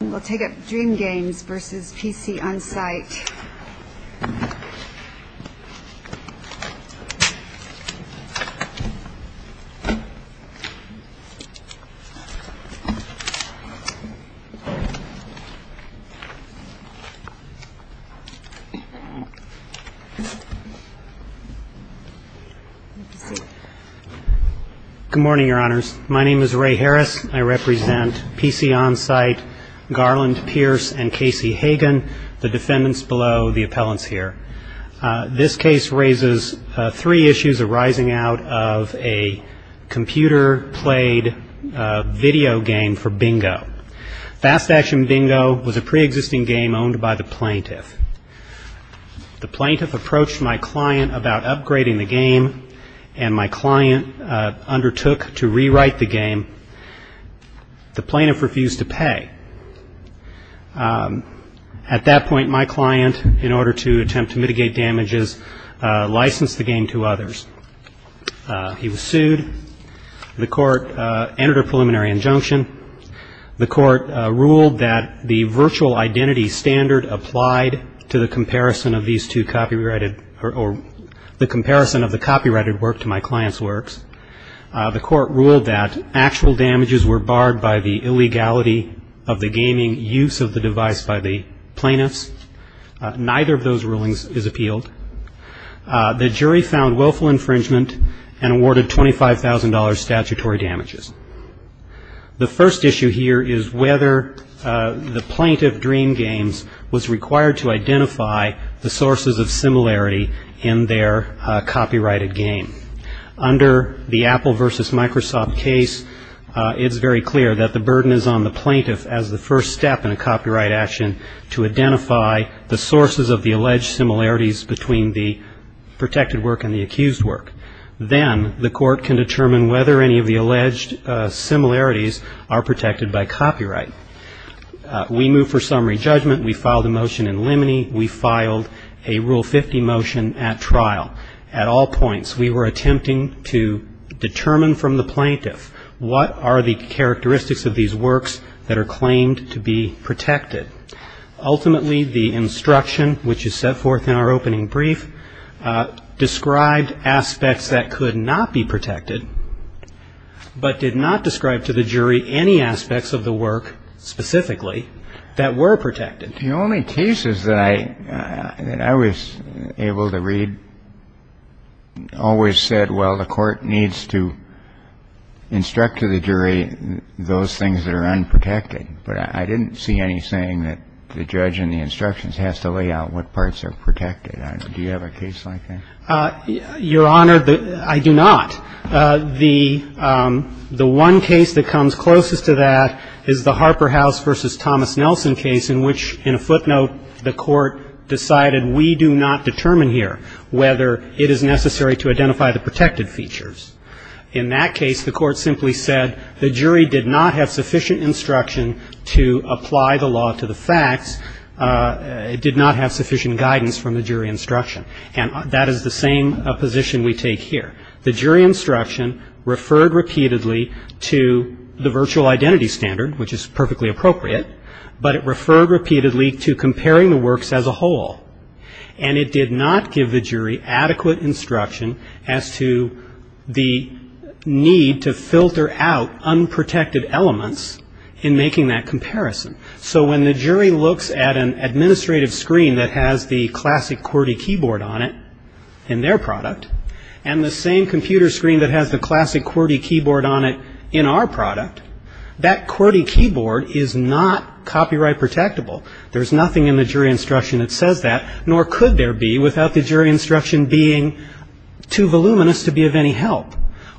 We'll take up Dream Games v. PC Onsite Good morning, Your Honors. My name is Ray Harris. I represent PC Onsite Garland, Pierce, and Casey Hagan, the defendants below the appellants here. This case raises three issues arising out of a computer-played video game for bingo. Fast Action Bingo was a pre-existing game owned by the plaintiff. The plaintiff approached my client about upgrading the game, and my client undertook to rewrite the game. The plaintiff refused to pay. The plaintiff at that point, my client, in order to attempt to mitigate damages, licensed the game to others. He was sued. The court entered a preliminary injunction. The court ruled that the virtual identity standard applied to the comparison of these two copyrighted or the comparison of the copyrighted work to my client's works. The court ruled that actual damages were barred by the illegality of the gaming use of the device by the plaintiffs. Neither of those rulings is appealed. The jury found willful infringement and awarded $25,000 statutory damages. The first issue here is whether the plaintiff, Dream Games, was required to identify the sources of similarity in their copyrighted game. Under the Apple v. Microsoft case, it's very clear that the burden is on the plaintiff as the first step in a copyright action to identify the sources of the alleged similarities between the protected work and the accused work. Then the court can determine whether any of the alleged similarities are protected by copyright. We moved for summary judgment. We filed a motion in limine. We filed a Rule 50 motion at trial. At all points, we were attempting to determine from the plaintiff what are the characteristics of these works that are claimed to be protected. Ultimately, the instruction, which is set forth in our opening brief, described aspects that could not be protected, but did not describe to the jury any aspects of the work specifically that were protected. The only thesis that I was able to read always said, well, the court needs to investigate and instruct to the jury those things that are unprotected. But I didn't see any saying that the judge in the instructions has to lay out what parts are protected. Do you have a case like that? Your Honor, I do not. The one case that comes closest to that is the Harper House v. Thomas Nelson case in which, in a footnote, the court decided, we do not determine here whether it is necessary to identify the protected features. In that case, the court simply said the jury did not have sufficient instruction to apply the law to the facts. It did not have sufficient guidance from the jury instruction. And that is the same position we take here. The jury instruction referred repeatedly to the virtual identity standard, which is perfectly appropriate, but it referred repeatedly to comparing the works as a whole. And it did not give the jury adequate instruction as to the need to filter out unprotected elements in making that comparison. So when the jury looks at an administrative screen that has the classic QWERTY keyboard on it in their product, and the same computer screen that has the classic QWERTY keyboard on it in our product, that QWERTY keyboard is not copyright protectable. There's nothing in the jury instruction that says that, nor could there be without the jury instruction being too voluminous to be of any help.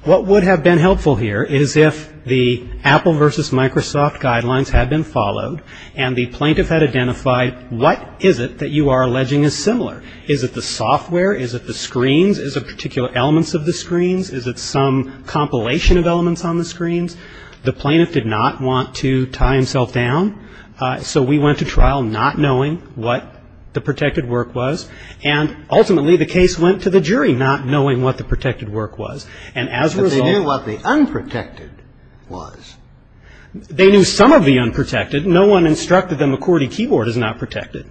What would have been helpful here is if the Apple versus Microsoft guidelines had been followed and the plaintiff had identified what is it that you are alleging is similar. Is it the software? Is it the screens? Is it particular elements of the screens? Is it some compilation of elements on the screens? The plaintiff did not want to tie himself down, so we went to trial not knowing what the protected work was. And ultimately the case went to the jury not knowing what the protected work was. And as a result But they knew what the unprotected was. They knew some of the unprotected. No one instructed them a QWERTY keyboard is not protected.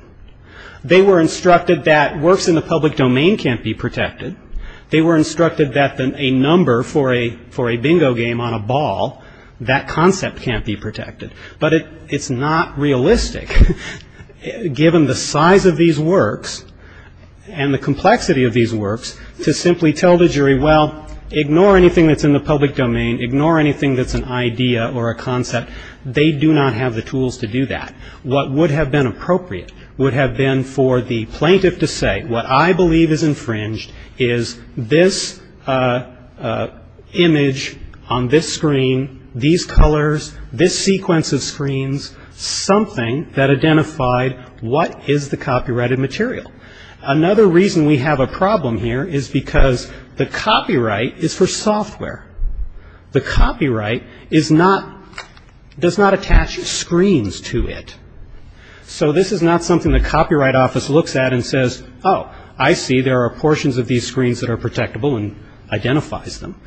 They were instructed that works in the public domain can't be protected. They were instructed that a number for a bingo game on a ball, that concept can't be protected. But it's not realistic, given the size of these works and the complexity of these works, to simply tell the jury, well, ignore anything that's in the public domain. Ignore anything that's an idea or a concept. They do not have the tools to do that. What would have been appropriate would have been for the plaintiff to say, what I believe is infringed is this image on this screen, these colors, this sequence of screens, something that identified what is the copyrighted material. Another reason we have a problem here is because the copyright is for software. The copyright is not, does not attach screens to it. So this is not something the Copyright Office looks at and says, oh, I see there are portions of these screens that are protectable and identifies them.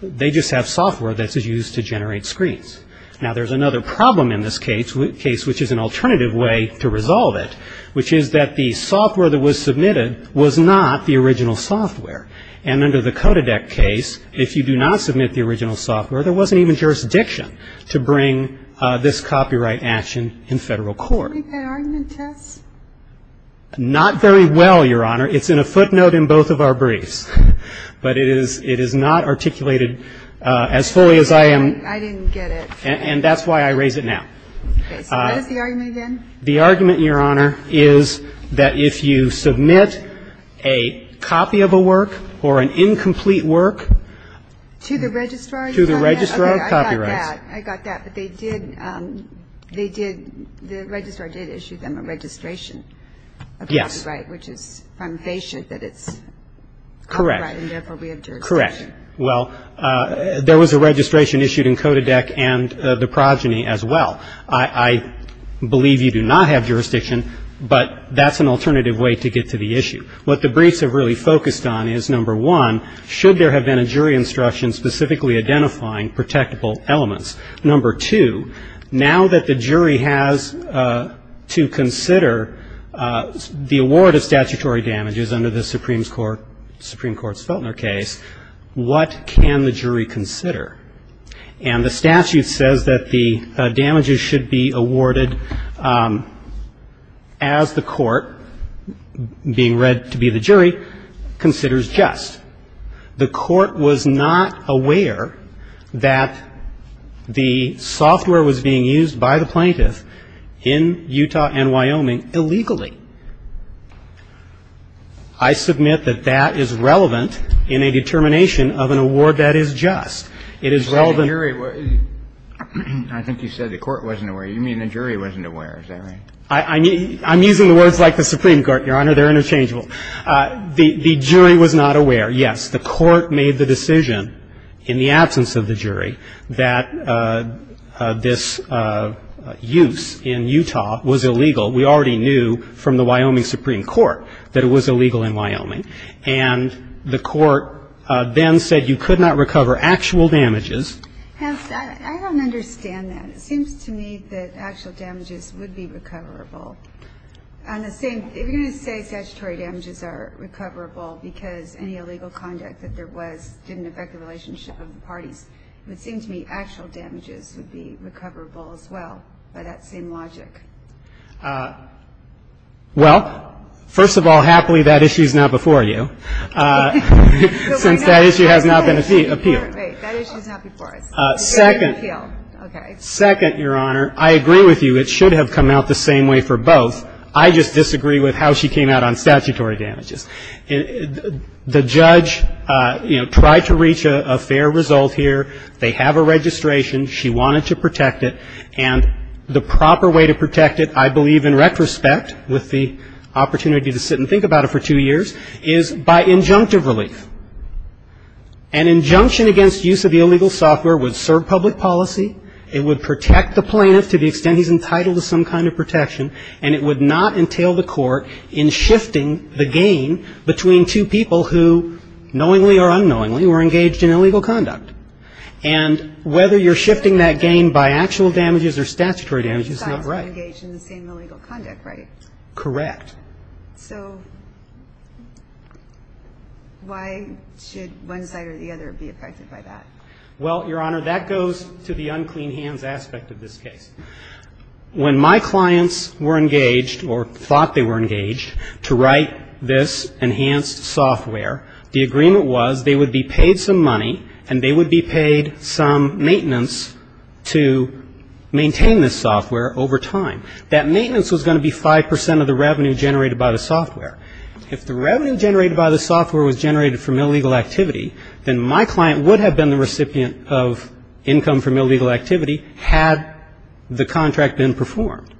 They just have software that's used to generate screens. Now, there's another problem in this case, which is an alternative way to resolve it, which is that the software that was submitted was not the original software. And under the CODEDEC case, if you do not submit the original software, there wasn't even jurisdiction to bring this copyright action in federal court. Do you want to make that argument, Tess? Not very well, Your Honor. It's in a footnote in both of our briefs. But it is not articulated as fully as I am. I didn't get it. And that's why I raise it now. Okay. So what is the argument, then? The argument, Your Honor, is that if you submit a copy of a work or an incomplete work to the registrar of copyrights. They did, the registrar did issue them a registration of copyright, which is from Hayshield, that it's copyright, and therefore we have jurisdiction. Correct. Well, there was a registration issued in CODEDEC and the progeny as well. I believe you do not have jurisdiction, but that's an alternative way to get to the issue. What the briefs have really focused on is, number one, should there have been a jury instruction specifically identifying protectable elements. Number two, now that the jury has to consider the award of statutory damages under the Supreme Court's Feltner case, what can the jury consider? And the statute says that the damages should be awarded as the court, being read to be the jury, considers just. The court was not aware that the software was being used by the plaintiff in Utah and Wyoming illegally. I submit that that is relevant in a determination of an award that is just. It is relevant to the court's judgment. I think you said the court wasn't aware. You mean the jury wasn't aware. Is that right? I'm using the words like the Supreme Court, Your Honor. They're interchangeable. The jury was not aware. Yes, the court made the decision in the absence of the jury that this use in Utah was illegal. We already knew from the Wyoming Supreme Court that it was illegal in Wyoming. And the court then said you could not recover actual damages. I don't understand that. It seems to me that actual damages would be recoverable. On the same, if you're going to say statutory damages are recoverable because any illegal conduct that there was didn't affect the relationship of the parties, it would seem to me actual damages would be recoverable as well by that same logic. Well, first of all, happily, that issue is not before you, since that issue has not been appealed. Wait, that issue is not before us. Second. Okay. Second, Your Honor, I agree with you. It should have come out the same way for both. I just disagree with how she came out on statutory damages. The judge, you know, tried to reach a fair result here. They have a registration. She wanted to protect it. And the proper way to protect it, I believe in retrospect, with the opportunity to sit and think about it for two years, is by injunctive relief. An injunction against use of the illegal software would serve public policy. It would protect the plaintiff to the extent he's entitled to some kind of protection. And it would not entail the court in shifting the gain between two people who, knowingly or unknowingly, were engaged in illegal conduct. And whether you're shifting that gain by actual damages or statutory damages is not right. But both sides were engaged in the same illegal conduct, right? Correct. So why should one side or the other be affected by that? Well, Your Honor, that goes to the unclean hands aspect of this case. When my clients were engaged or thought they were engaged to write this enhanced software, the agreement was they would be paid some money and they would be paid some maintenance to maintain this software over time. That maintenance was going to be 5 percent of the revenue generated by the software. If the revenue generated by the software was generated from illegal activity, then my client would have been the recipient of income from illegal activity had the contract been performed.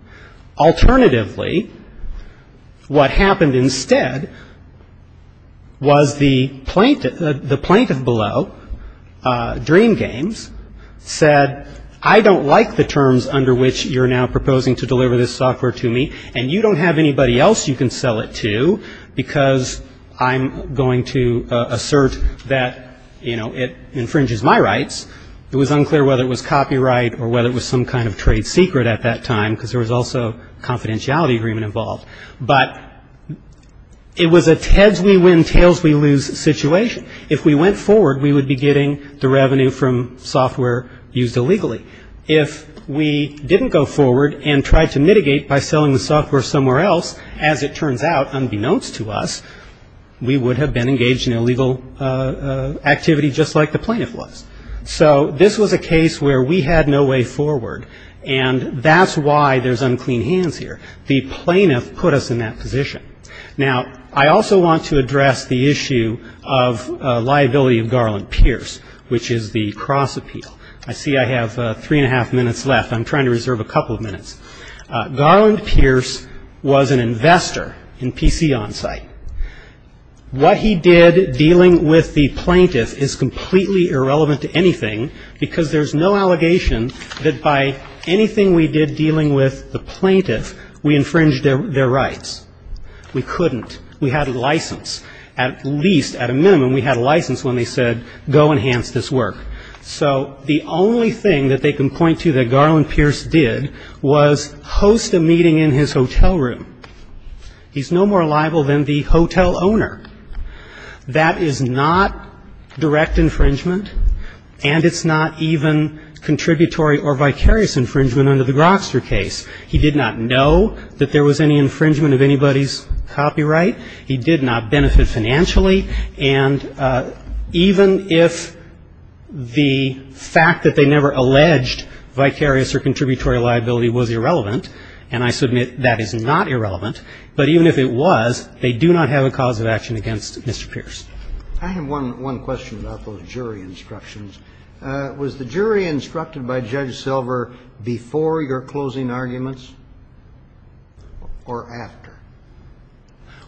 Alternatively, what happened instead was the plaintiff below, Dream Games, said, I don't like the terms under which you're now proposing to deliver this software to me, and you don't have anybody else you can sell it to because I'm going to assert that, you know, it infringes my rights. It was unclear whether it was copyright or whether it was some kind of trade secret at that time because there was also a confidentiality agreement involved. But it was a Ted's we win, Tails we lose situation. If we went forward, we would be getting the revenue from software used illegally. If we didn't go forward and tried to mitigate by selling the software somewhere else, as it turns out, unbeknownst to us, we would have been engaged in illegal activity just like the plaintiff was. So this was a case where we had no way forward, and that's why there's unclean hands here. The plaintiff put us in that position. Now, I also want to address the issue of liability of Garland Pierce, which is the cross appeal. I see I have three and a half minutes left. I'm trying to reserve a couple of minutes. Garland Pierce was an investor in PC Onsite. What he did dealing with the plaintiff is completely irrelevant to anything because there's no allegation that by anything we did dealing with the plaintiff, we infringed their rights. We couldn't. We had a license. At least, at a minimum, we had a license when they said, go enhance this work. So the only thing that they can point to that Garland Pierce did was host a meeting in his hotel room. He's no more liable than the hotel owner. That is not direct infringement, and it's not even contributory or vicarious infringement under the Grokster case. He did not know that there was any infringement of anybody's copyright. He did not benefit financially, and even if the fact that they never alleged vicarious or contributory liability was irrelevant, and I submit that is not irrelevant, but even if it was, they do not have a cause of action against Mr. Pierce. I have one question about those jury instructions. Was the jury instructed by Judge Silver before your closing arguments or after?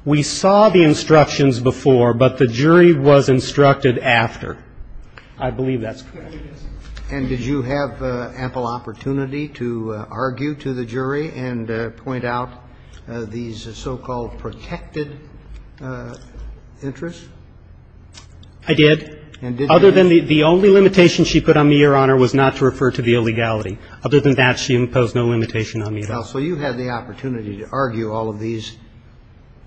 We saw the instructions before, but the jury was instructed after. I believe that's correct. And did you have ample opportunity to argue to the jury and point out these so-called protected interests? And did you have the opportunity to argue to the jury and point out these so-called protected interests? Other than the only limitation she put on me, Your Honor, was not to refer to the illegality. Other than that, she imposed no limitation on me at all. Counsel, you had the opportunity to argue all of these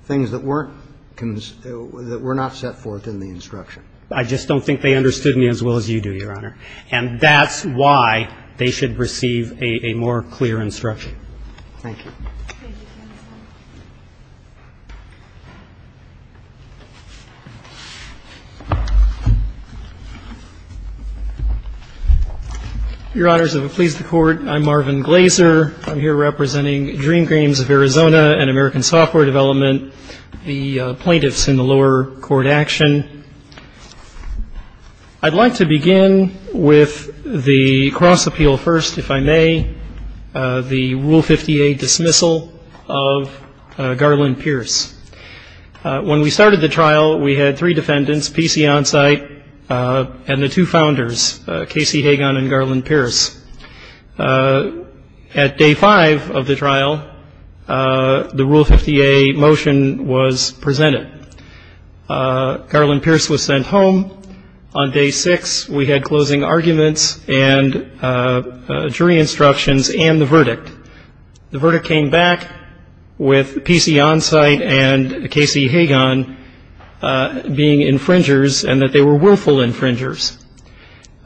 things that weren't cons – that were not set forth in the instruction. I just don't think they understood me as well as you do, Your Honor. And that's why they should receive a more clear instruction. Thank you. Thank you, counsel. Your Honors, if it pleases the Court, I'm Marvin Glaser. I'm here representing Dream Games of Arizona and American Software Development, the plaintiffs in the lower court action. I'd like to begin with the cross-appeal first, if I may, the Rule 58 dismissal of Garland Pierce. When we started the trial, we had three defendants, P.C. Onsite and the two founders, Casey Hagan and Garland Pierce. At day five of the trial, the Rule 58 motion was presented. Garland Pierce was sent home. On day six, we had closing arguments and jury instructions and the verdict. The verdict came back with P.C. Onsite and Casey Hagan being infringers and that they were willful infringers.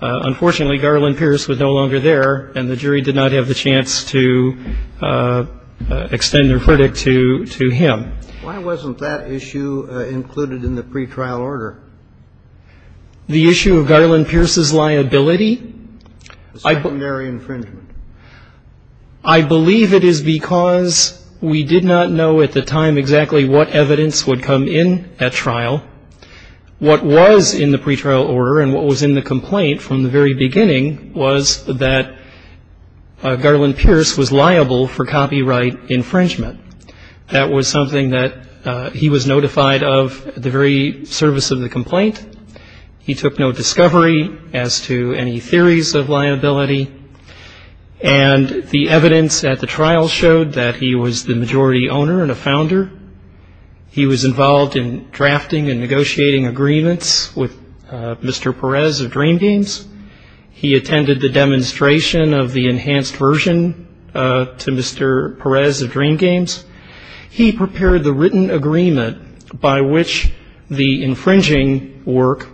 Unfortunately, Garland Pierce was no longer there, and the jury did not have the chance to extend their verdict to him. Why wasn't that issue included in the pretrial order? The issue of Garland Pierce's liability? The secondary infringement. I believe it is because we did not know at the time exactly what evidence would come in at trial. What was in the pretrial order and what was in the complaint from the very beginning was that Garland Pierce was liable for copyright infringement. That was something that he was notified of at the very service of the complaint. He took no discovery as to any theories of liability, and the evidence at the trial showed that he was the majority owner and a founder. He was involved in drafting and negotiating agreements with Mr. Perez of Dream Games. He attended the demonstration of the enhanced version to Mr. Perez of Dream Games. He prepared the written agreement by which the infringing work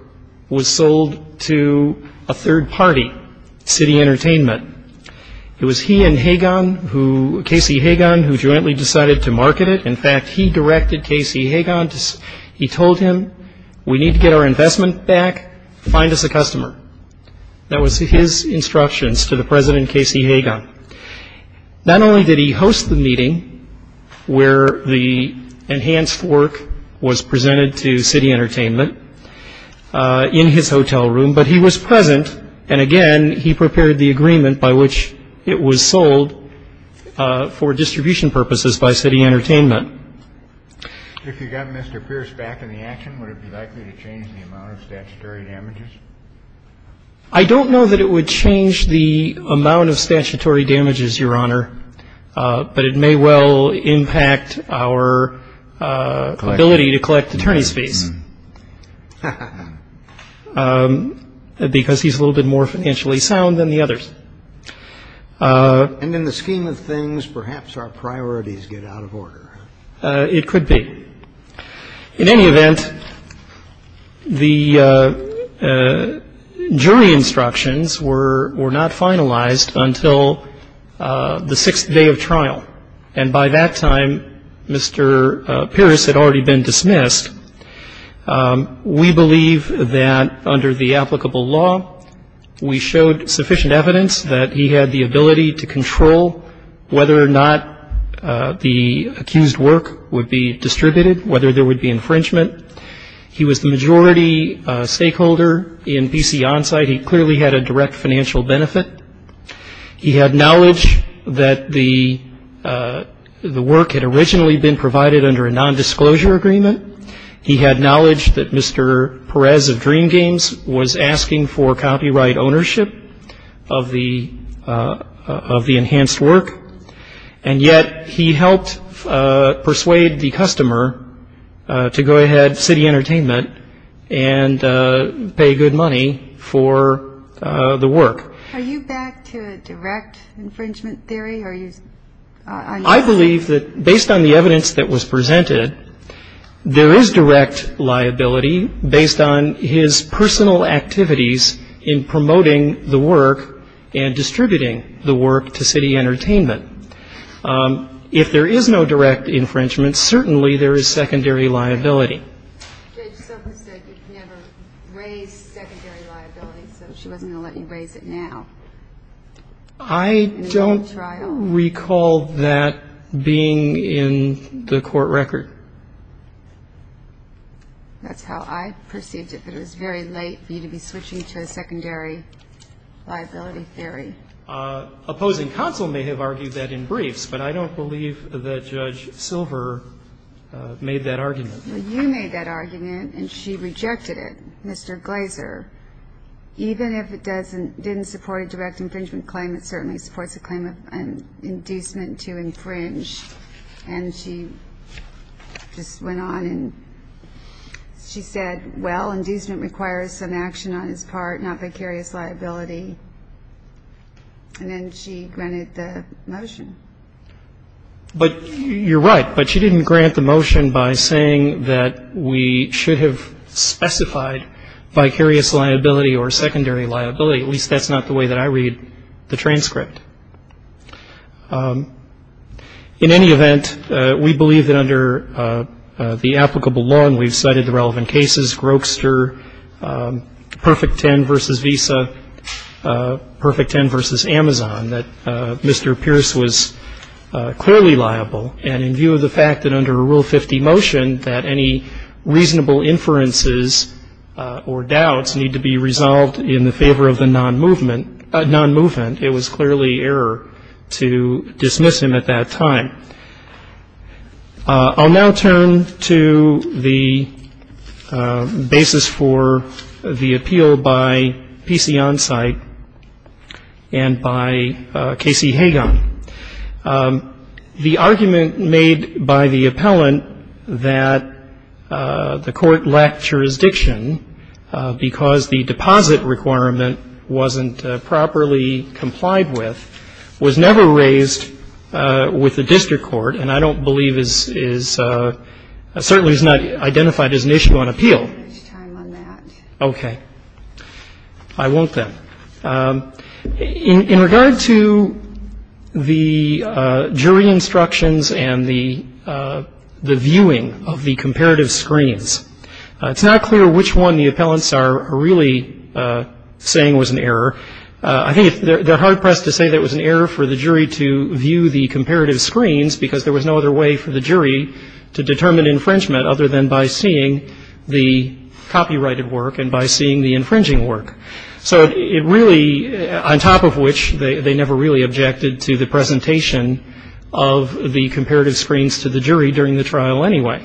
was sold to the third party, City Entertainment. It was he and Hagan, Casey Hagan, who jointly decided to market it. In fact, he directed Casey Hagan. He told him, we need to get our investment back. Find us a customer. That was his instructions to the President Casey Hagan. Not only did he host the meeting where the enhanced work was presented to City Entertainment in his hotel room, but he was present, and again, he prepared the agreement by which it was sold for distribution purposes by City Entertainment. If you got Mr. Pierce back in the action, would it be likely to change the amount of statutory damages? I don't know that it would change the amount of statutory damages, Your Honor, but it may well impact our ability to collect attorney's fees. Because he's a little bit more financially sound than the others. And in the scheme of things, perhaps our priorities get out of order. It could be. In any event, the jury instructions were not finalized until the sixth day of trial, and by that time, Mr. Pierce had already been dismissed. We believe that under the applicable law, we showed sufficient evidence that he had the ability to control whether or not the accused work would be distributed, whether there would be infringement. He was the majority stakeholder in B.C. On-Site. He clearly had a direct financial benefit. He had knowledge that the work had originally been provided under a nondisclosure agreement. He had knowledge that Mr. Perez of Dream Games was asking for copyright ownership of the enhanced work, and yet he helped persuade the customer to go ahead, City Entertainment, and pay good money for the work. Are you back to a direct infringement theory? I believe that, based on the evidence that was presented, there is direct liability based on his personal activities in promoting the work and distributing the work to City Entertainment. If there is no direct infringement, certainly there is secondary liability. Judge Soka said you could never raise secondary liability, so she wasn't going to let you recall that being in the court record. That's how I perceived it, but it was very late for you to be switching to a secondary liability theory. Opposing counsel may have argued that in briefs, but I don't believe that Judge Silver made that argument. You made that argument, and she rejected it, Mr. Glazer. Even if it didn't support a direct infringement claim, it certainly supports a claim of inducement to infringe. She just went on and said, well, inducement requires some action on its part, not vicarious liability, and then she granted the motion. You're right, but she didn't grant the motion by saying that we should have specified vicarious liability or secondary liability. At least that's not the way that I read the transcript. In any event, we believe that under the applicable law, and we've cited the relevant cases, Grokster, Perfect Ten versus Visa, Perfect Ten versus Amazon, that Mr. Pierce was clearly liable, and in view of the fact that under Rule 50 motion that any reasonable inferences or doubts need to be resolved in the favor of the non-movement, it was clearly error to dismiss him at that time. I'll now turn to the basis for the appeal by P.C. Onsite and by K.C. Hagan. The argument made by the appellant that the court lacked jurisdiction because the deposit requirement wasn't properly complied with was never raised with the district court, and I don't believe is certainly is not identified as an issue on appeal. Okay. I won't then. In regard to the jury instructions and the viewing of the comparative screens, it's not clear which one the appellants are really saying was an error. I think they're hard pressed to say that it was an error for the jury to view the comparative screens because there was no other way for the jury to determine infringement other than by seeing the copyrighted work and by seeing the infringing work. So it really, on top of which, they never really objected to the presentation of the comparative screens to the jury during the trial anyway.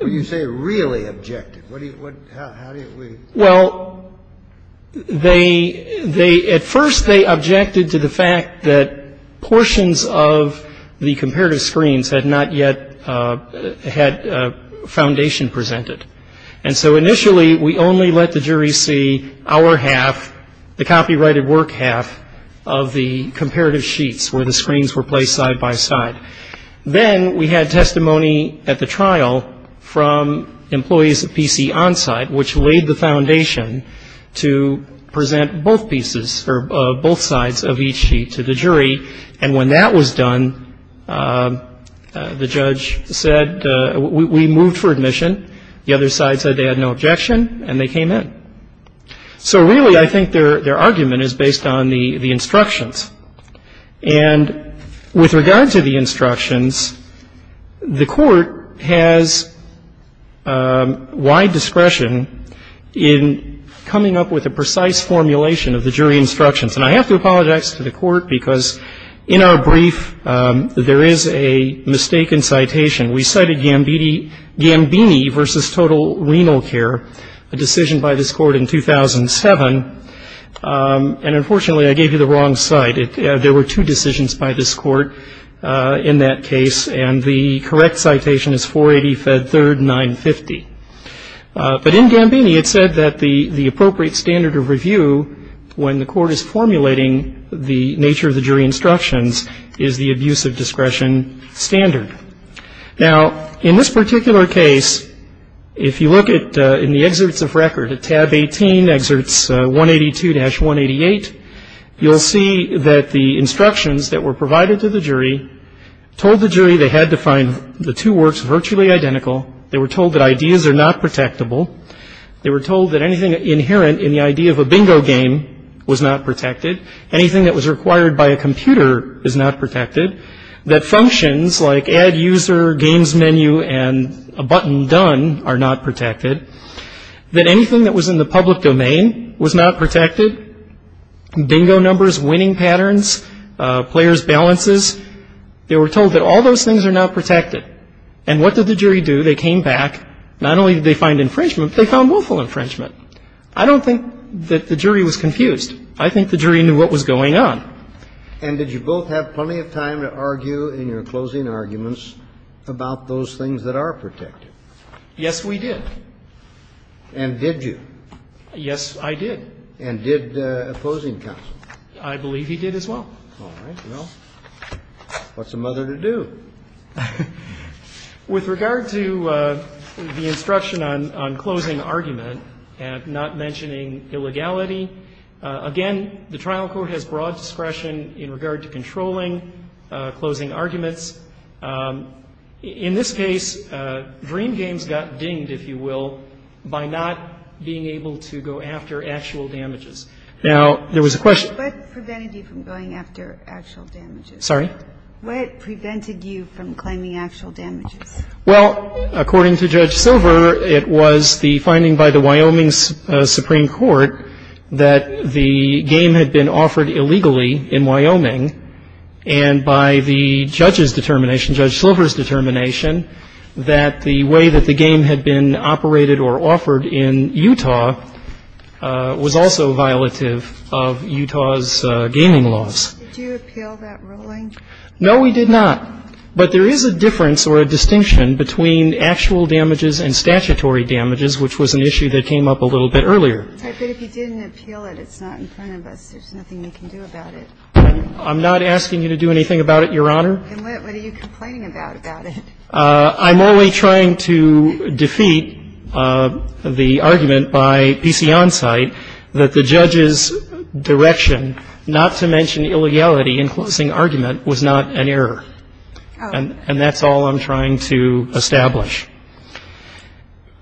You say really objected. What do you, what, how do you, well, they, at first they objected to the fact that portions of the comparative screens had not yet had foundation presented. And so initially we only let the jury see our half, the copyrighted work half of the comparative sheets where the screens were placed side by side. Then we had testimony at the trial from employees of PC Onsite which laid the foundation to present both pieces or both sides of each sheet to the jury, and when that was done, the judge said, we moved for admission. The other side said they had no objection, and they came in. So really I think their argument is based on the instructions. And with regard to the instructions, the Court has wide discretion in coming up with a precise formulation of the jury instructions. And I have to apologize to the Court because in our brief there is a mistaken citation. We cited Gambini v. Total Renal Care, a decision by this Court in 2007, and unfortunately I gave you the wrong cite. There were two decisions by this Court in that case, and the correct citation is 480 Fed 3rd 950. But in Gambini it said that the appropriate standard of review when the Court is formulating the nature of the jury instructions is the abuse of discretion standard. Now, in this particular case, if you look in the excerpts of record at tab 18, excerpts 182-188, you'll see that the instructions that were provided to the jury told the jury they had to find the two works virtually identical. They were told that ideas are not protectable. They were told that anything inherent in the idea of a bingo game was not protected. Anything that was required by a computer is not protected, that functions like add user, games menu, and a button done are not protected, that anything that was in the public domain was not protected, bingo numbers, winning patterns, players' balances. They were told that all those things are not protected. And what did the jury do? They came back. Not only did they find infringement, they found willful infringement. I don't think that the jury was confused. I think the jury knew what was going on. And did you both have plenty of time to argue in your closing arguments about those things that are protected? Yes, we did. And did you? Yes, I did. And did opposing counsel? I believe he did as well. All right. Well, what's a mother to do? With regard to the instruction on closing argument and not mentioning illegality, again, the trial court has broad discretion in regard to controlling closing arguments. In this case, dream games got dinged, if you will, by not being able to go after actual damages. Now, there was a question. What prevented you from going after actual damages? Sorry? What prevented you from claiming actual damages? Well, according to Judge Silver, it was the finding by the Wyoming Supreme Court that the game had been offered illegally in Wyoming. And by the judge's determination, Judge Silver's determination, that the way that the game had been operated or offered in Utah was also violative of Utah's gaming laws. Did you appeal that ruling? No, we did not. But there is a difference or a distinction between actual damages and statutory damages, which was an issue that came up a little bit earlier. But if you didn't appeal it, it's not in front of us. There's nothing we can do about it. I'm not asking you to do anything about it, Your Honor. Then what are you complaining about about it? I'm only trying to defeat the argument by PC Onsite that the judge's direction, not to mention illegality in closing argument, was not an error. And that's all I'm trying to establish.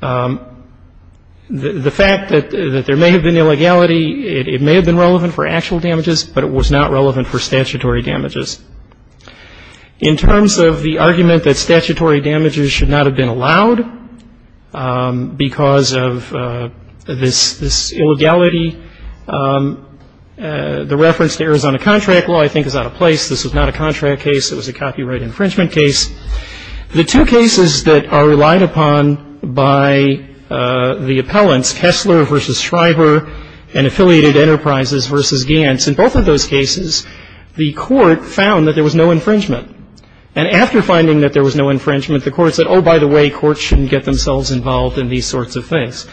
The fact that there may have been illegality, it may have been relevant for actual damages, but it was not relevant for statutory damages. In terms of the argument that statutory damages should not have been allowed because of this illegality, the reference to Arizona contract law I think is out of place. This was not a contract case. It was a copyright infringement case. The two cases that are relied upon by the appellants, Kessler v. Schreiber and Affiliated Enterprises v. Gantz, in both of those cases, the court found that there was no infringement. And after finding that there was no infringement, the court said, oh, by the way, courts shouldn't get themselves involved in these sorts of things.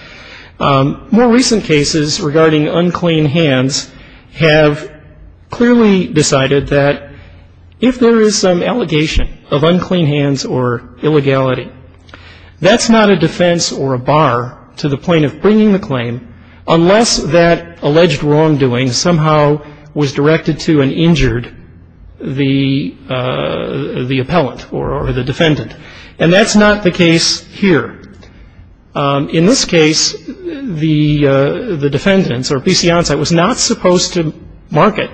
More recent cases regarding unclean hands have clearly decided that if there is some allegation of unclean hands or illegality, that's not a defense or a bar to the point of bringing the claim unless that alleged wrongdoing somehow was directed to and injured the appellant or the defendant. And that's not the case here. In this case, the defendants or PC-On-Site was not supposed to market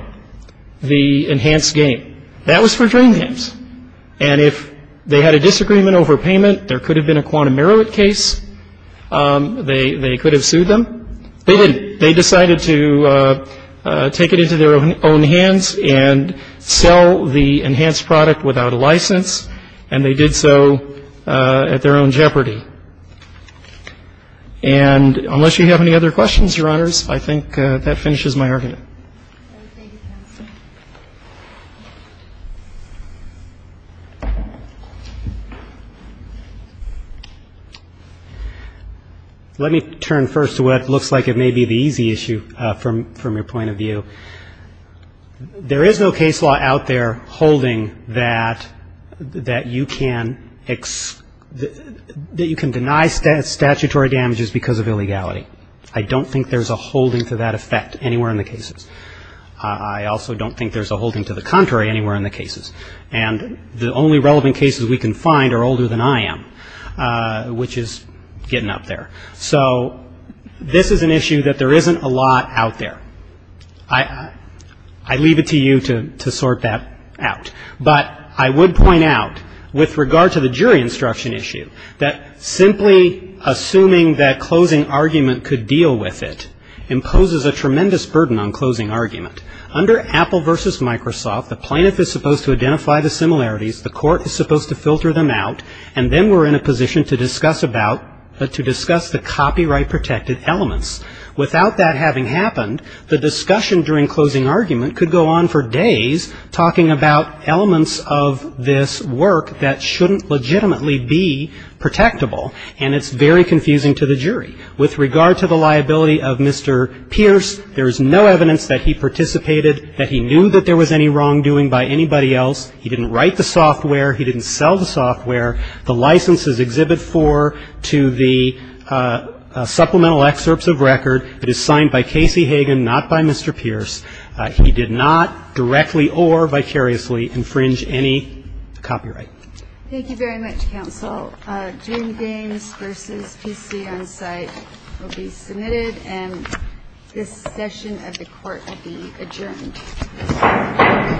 the enhanced game. That was for drain dams. And if they had a disagreement over payment, there could have been a quantum merit case. They could have sued them. They didn't. They decided to take it into their own hands and sell the enhanced product without a license. And they did so at their own jeopardy. And unless you have any other questions, Your Honors, I think that finishes my argument. Let me turn first to what looks like it may be the easy issue from your point of view. There is no case law out there holding that you can deny statutory damages because of illegality. I don't think there's a holding to that effect anywhere in the cases. I also don't think there's a holding to the contrary anywhere in the cases. And the only relevant cases we can find are older than I am, which is getting up there. So this is an issue that there isn't a lot out there. I leave it to you to sort that out. But I would point out, with regard to the jury instruction issue, that simply assuming that closing argument could deal with it imposes a tremendous burden on closing argument. Under Apple versus Microsoft, the plaintiff is supposed to identify the similarities. The court is supposed to filter them out. And then we're in a position to discuss about, to discuss the copyright protected elements. Without that having happened, the discussion during closing argument could go on for days talking about elements of this work that shouldn't legitimately be protectable. And it's very confusing to the jury. With regard to the liability of Mr. Pierce, there is no evidence that he participated, that he knew that there was any wrongdoing by anybody else. He didn't write the software. He didn't sell the software. The license is Exhibit 4 to the supplemental excerpts of record. It is signed by Casey Hagan, not by Mr. Pierce. He did not directly or vicariously infringe any copyright. Thank you very much, counsel. Dream Games versus PC on site will be submitted. And this session of the court will be adjourned. Thank you.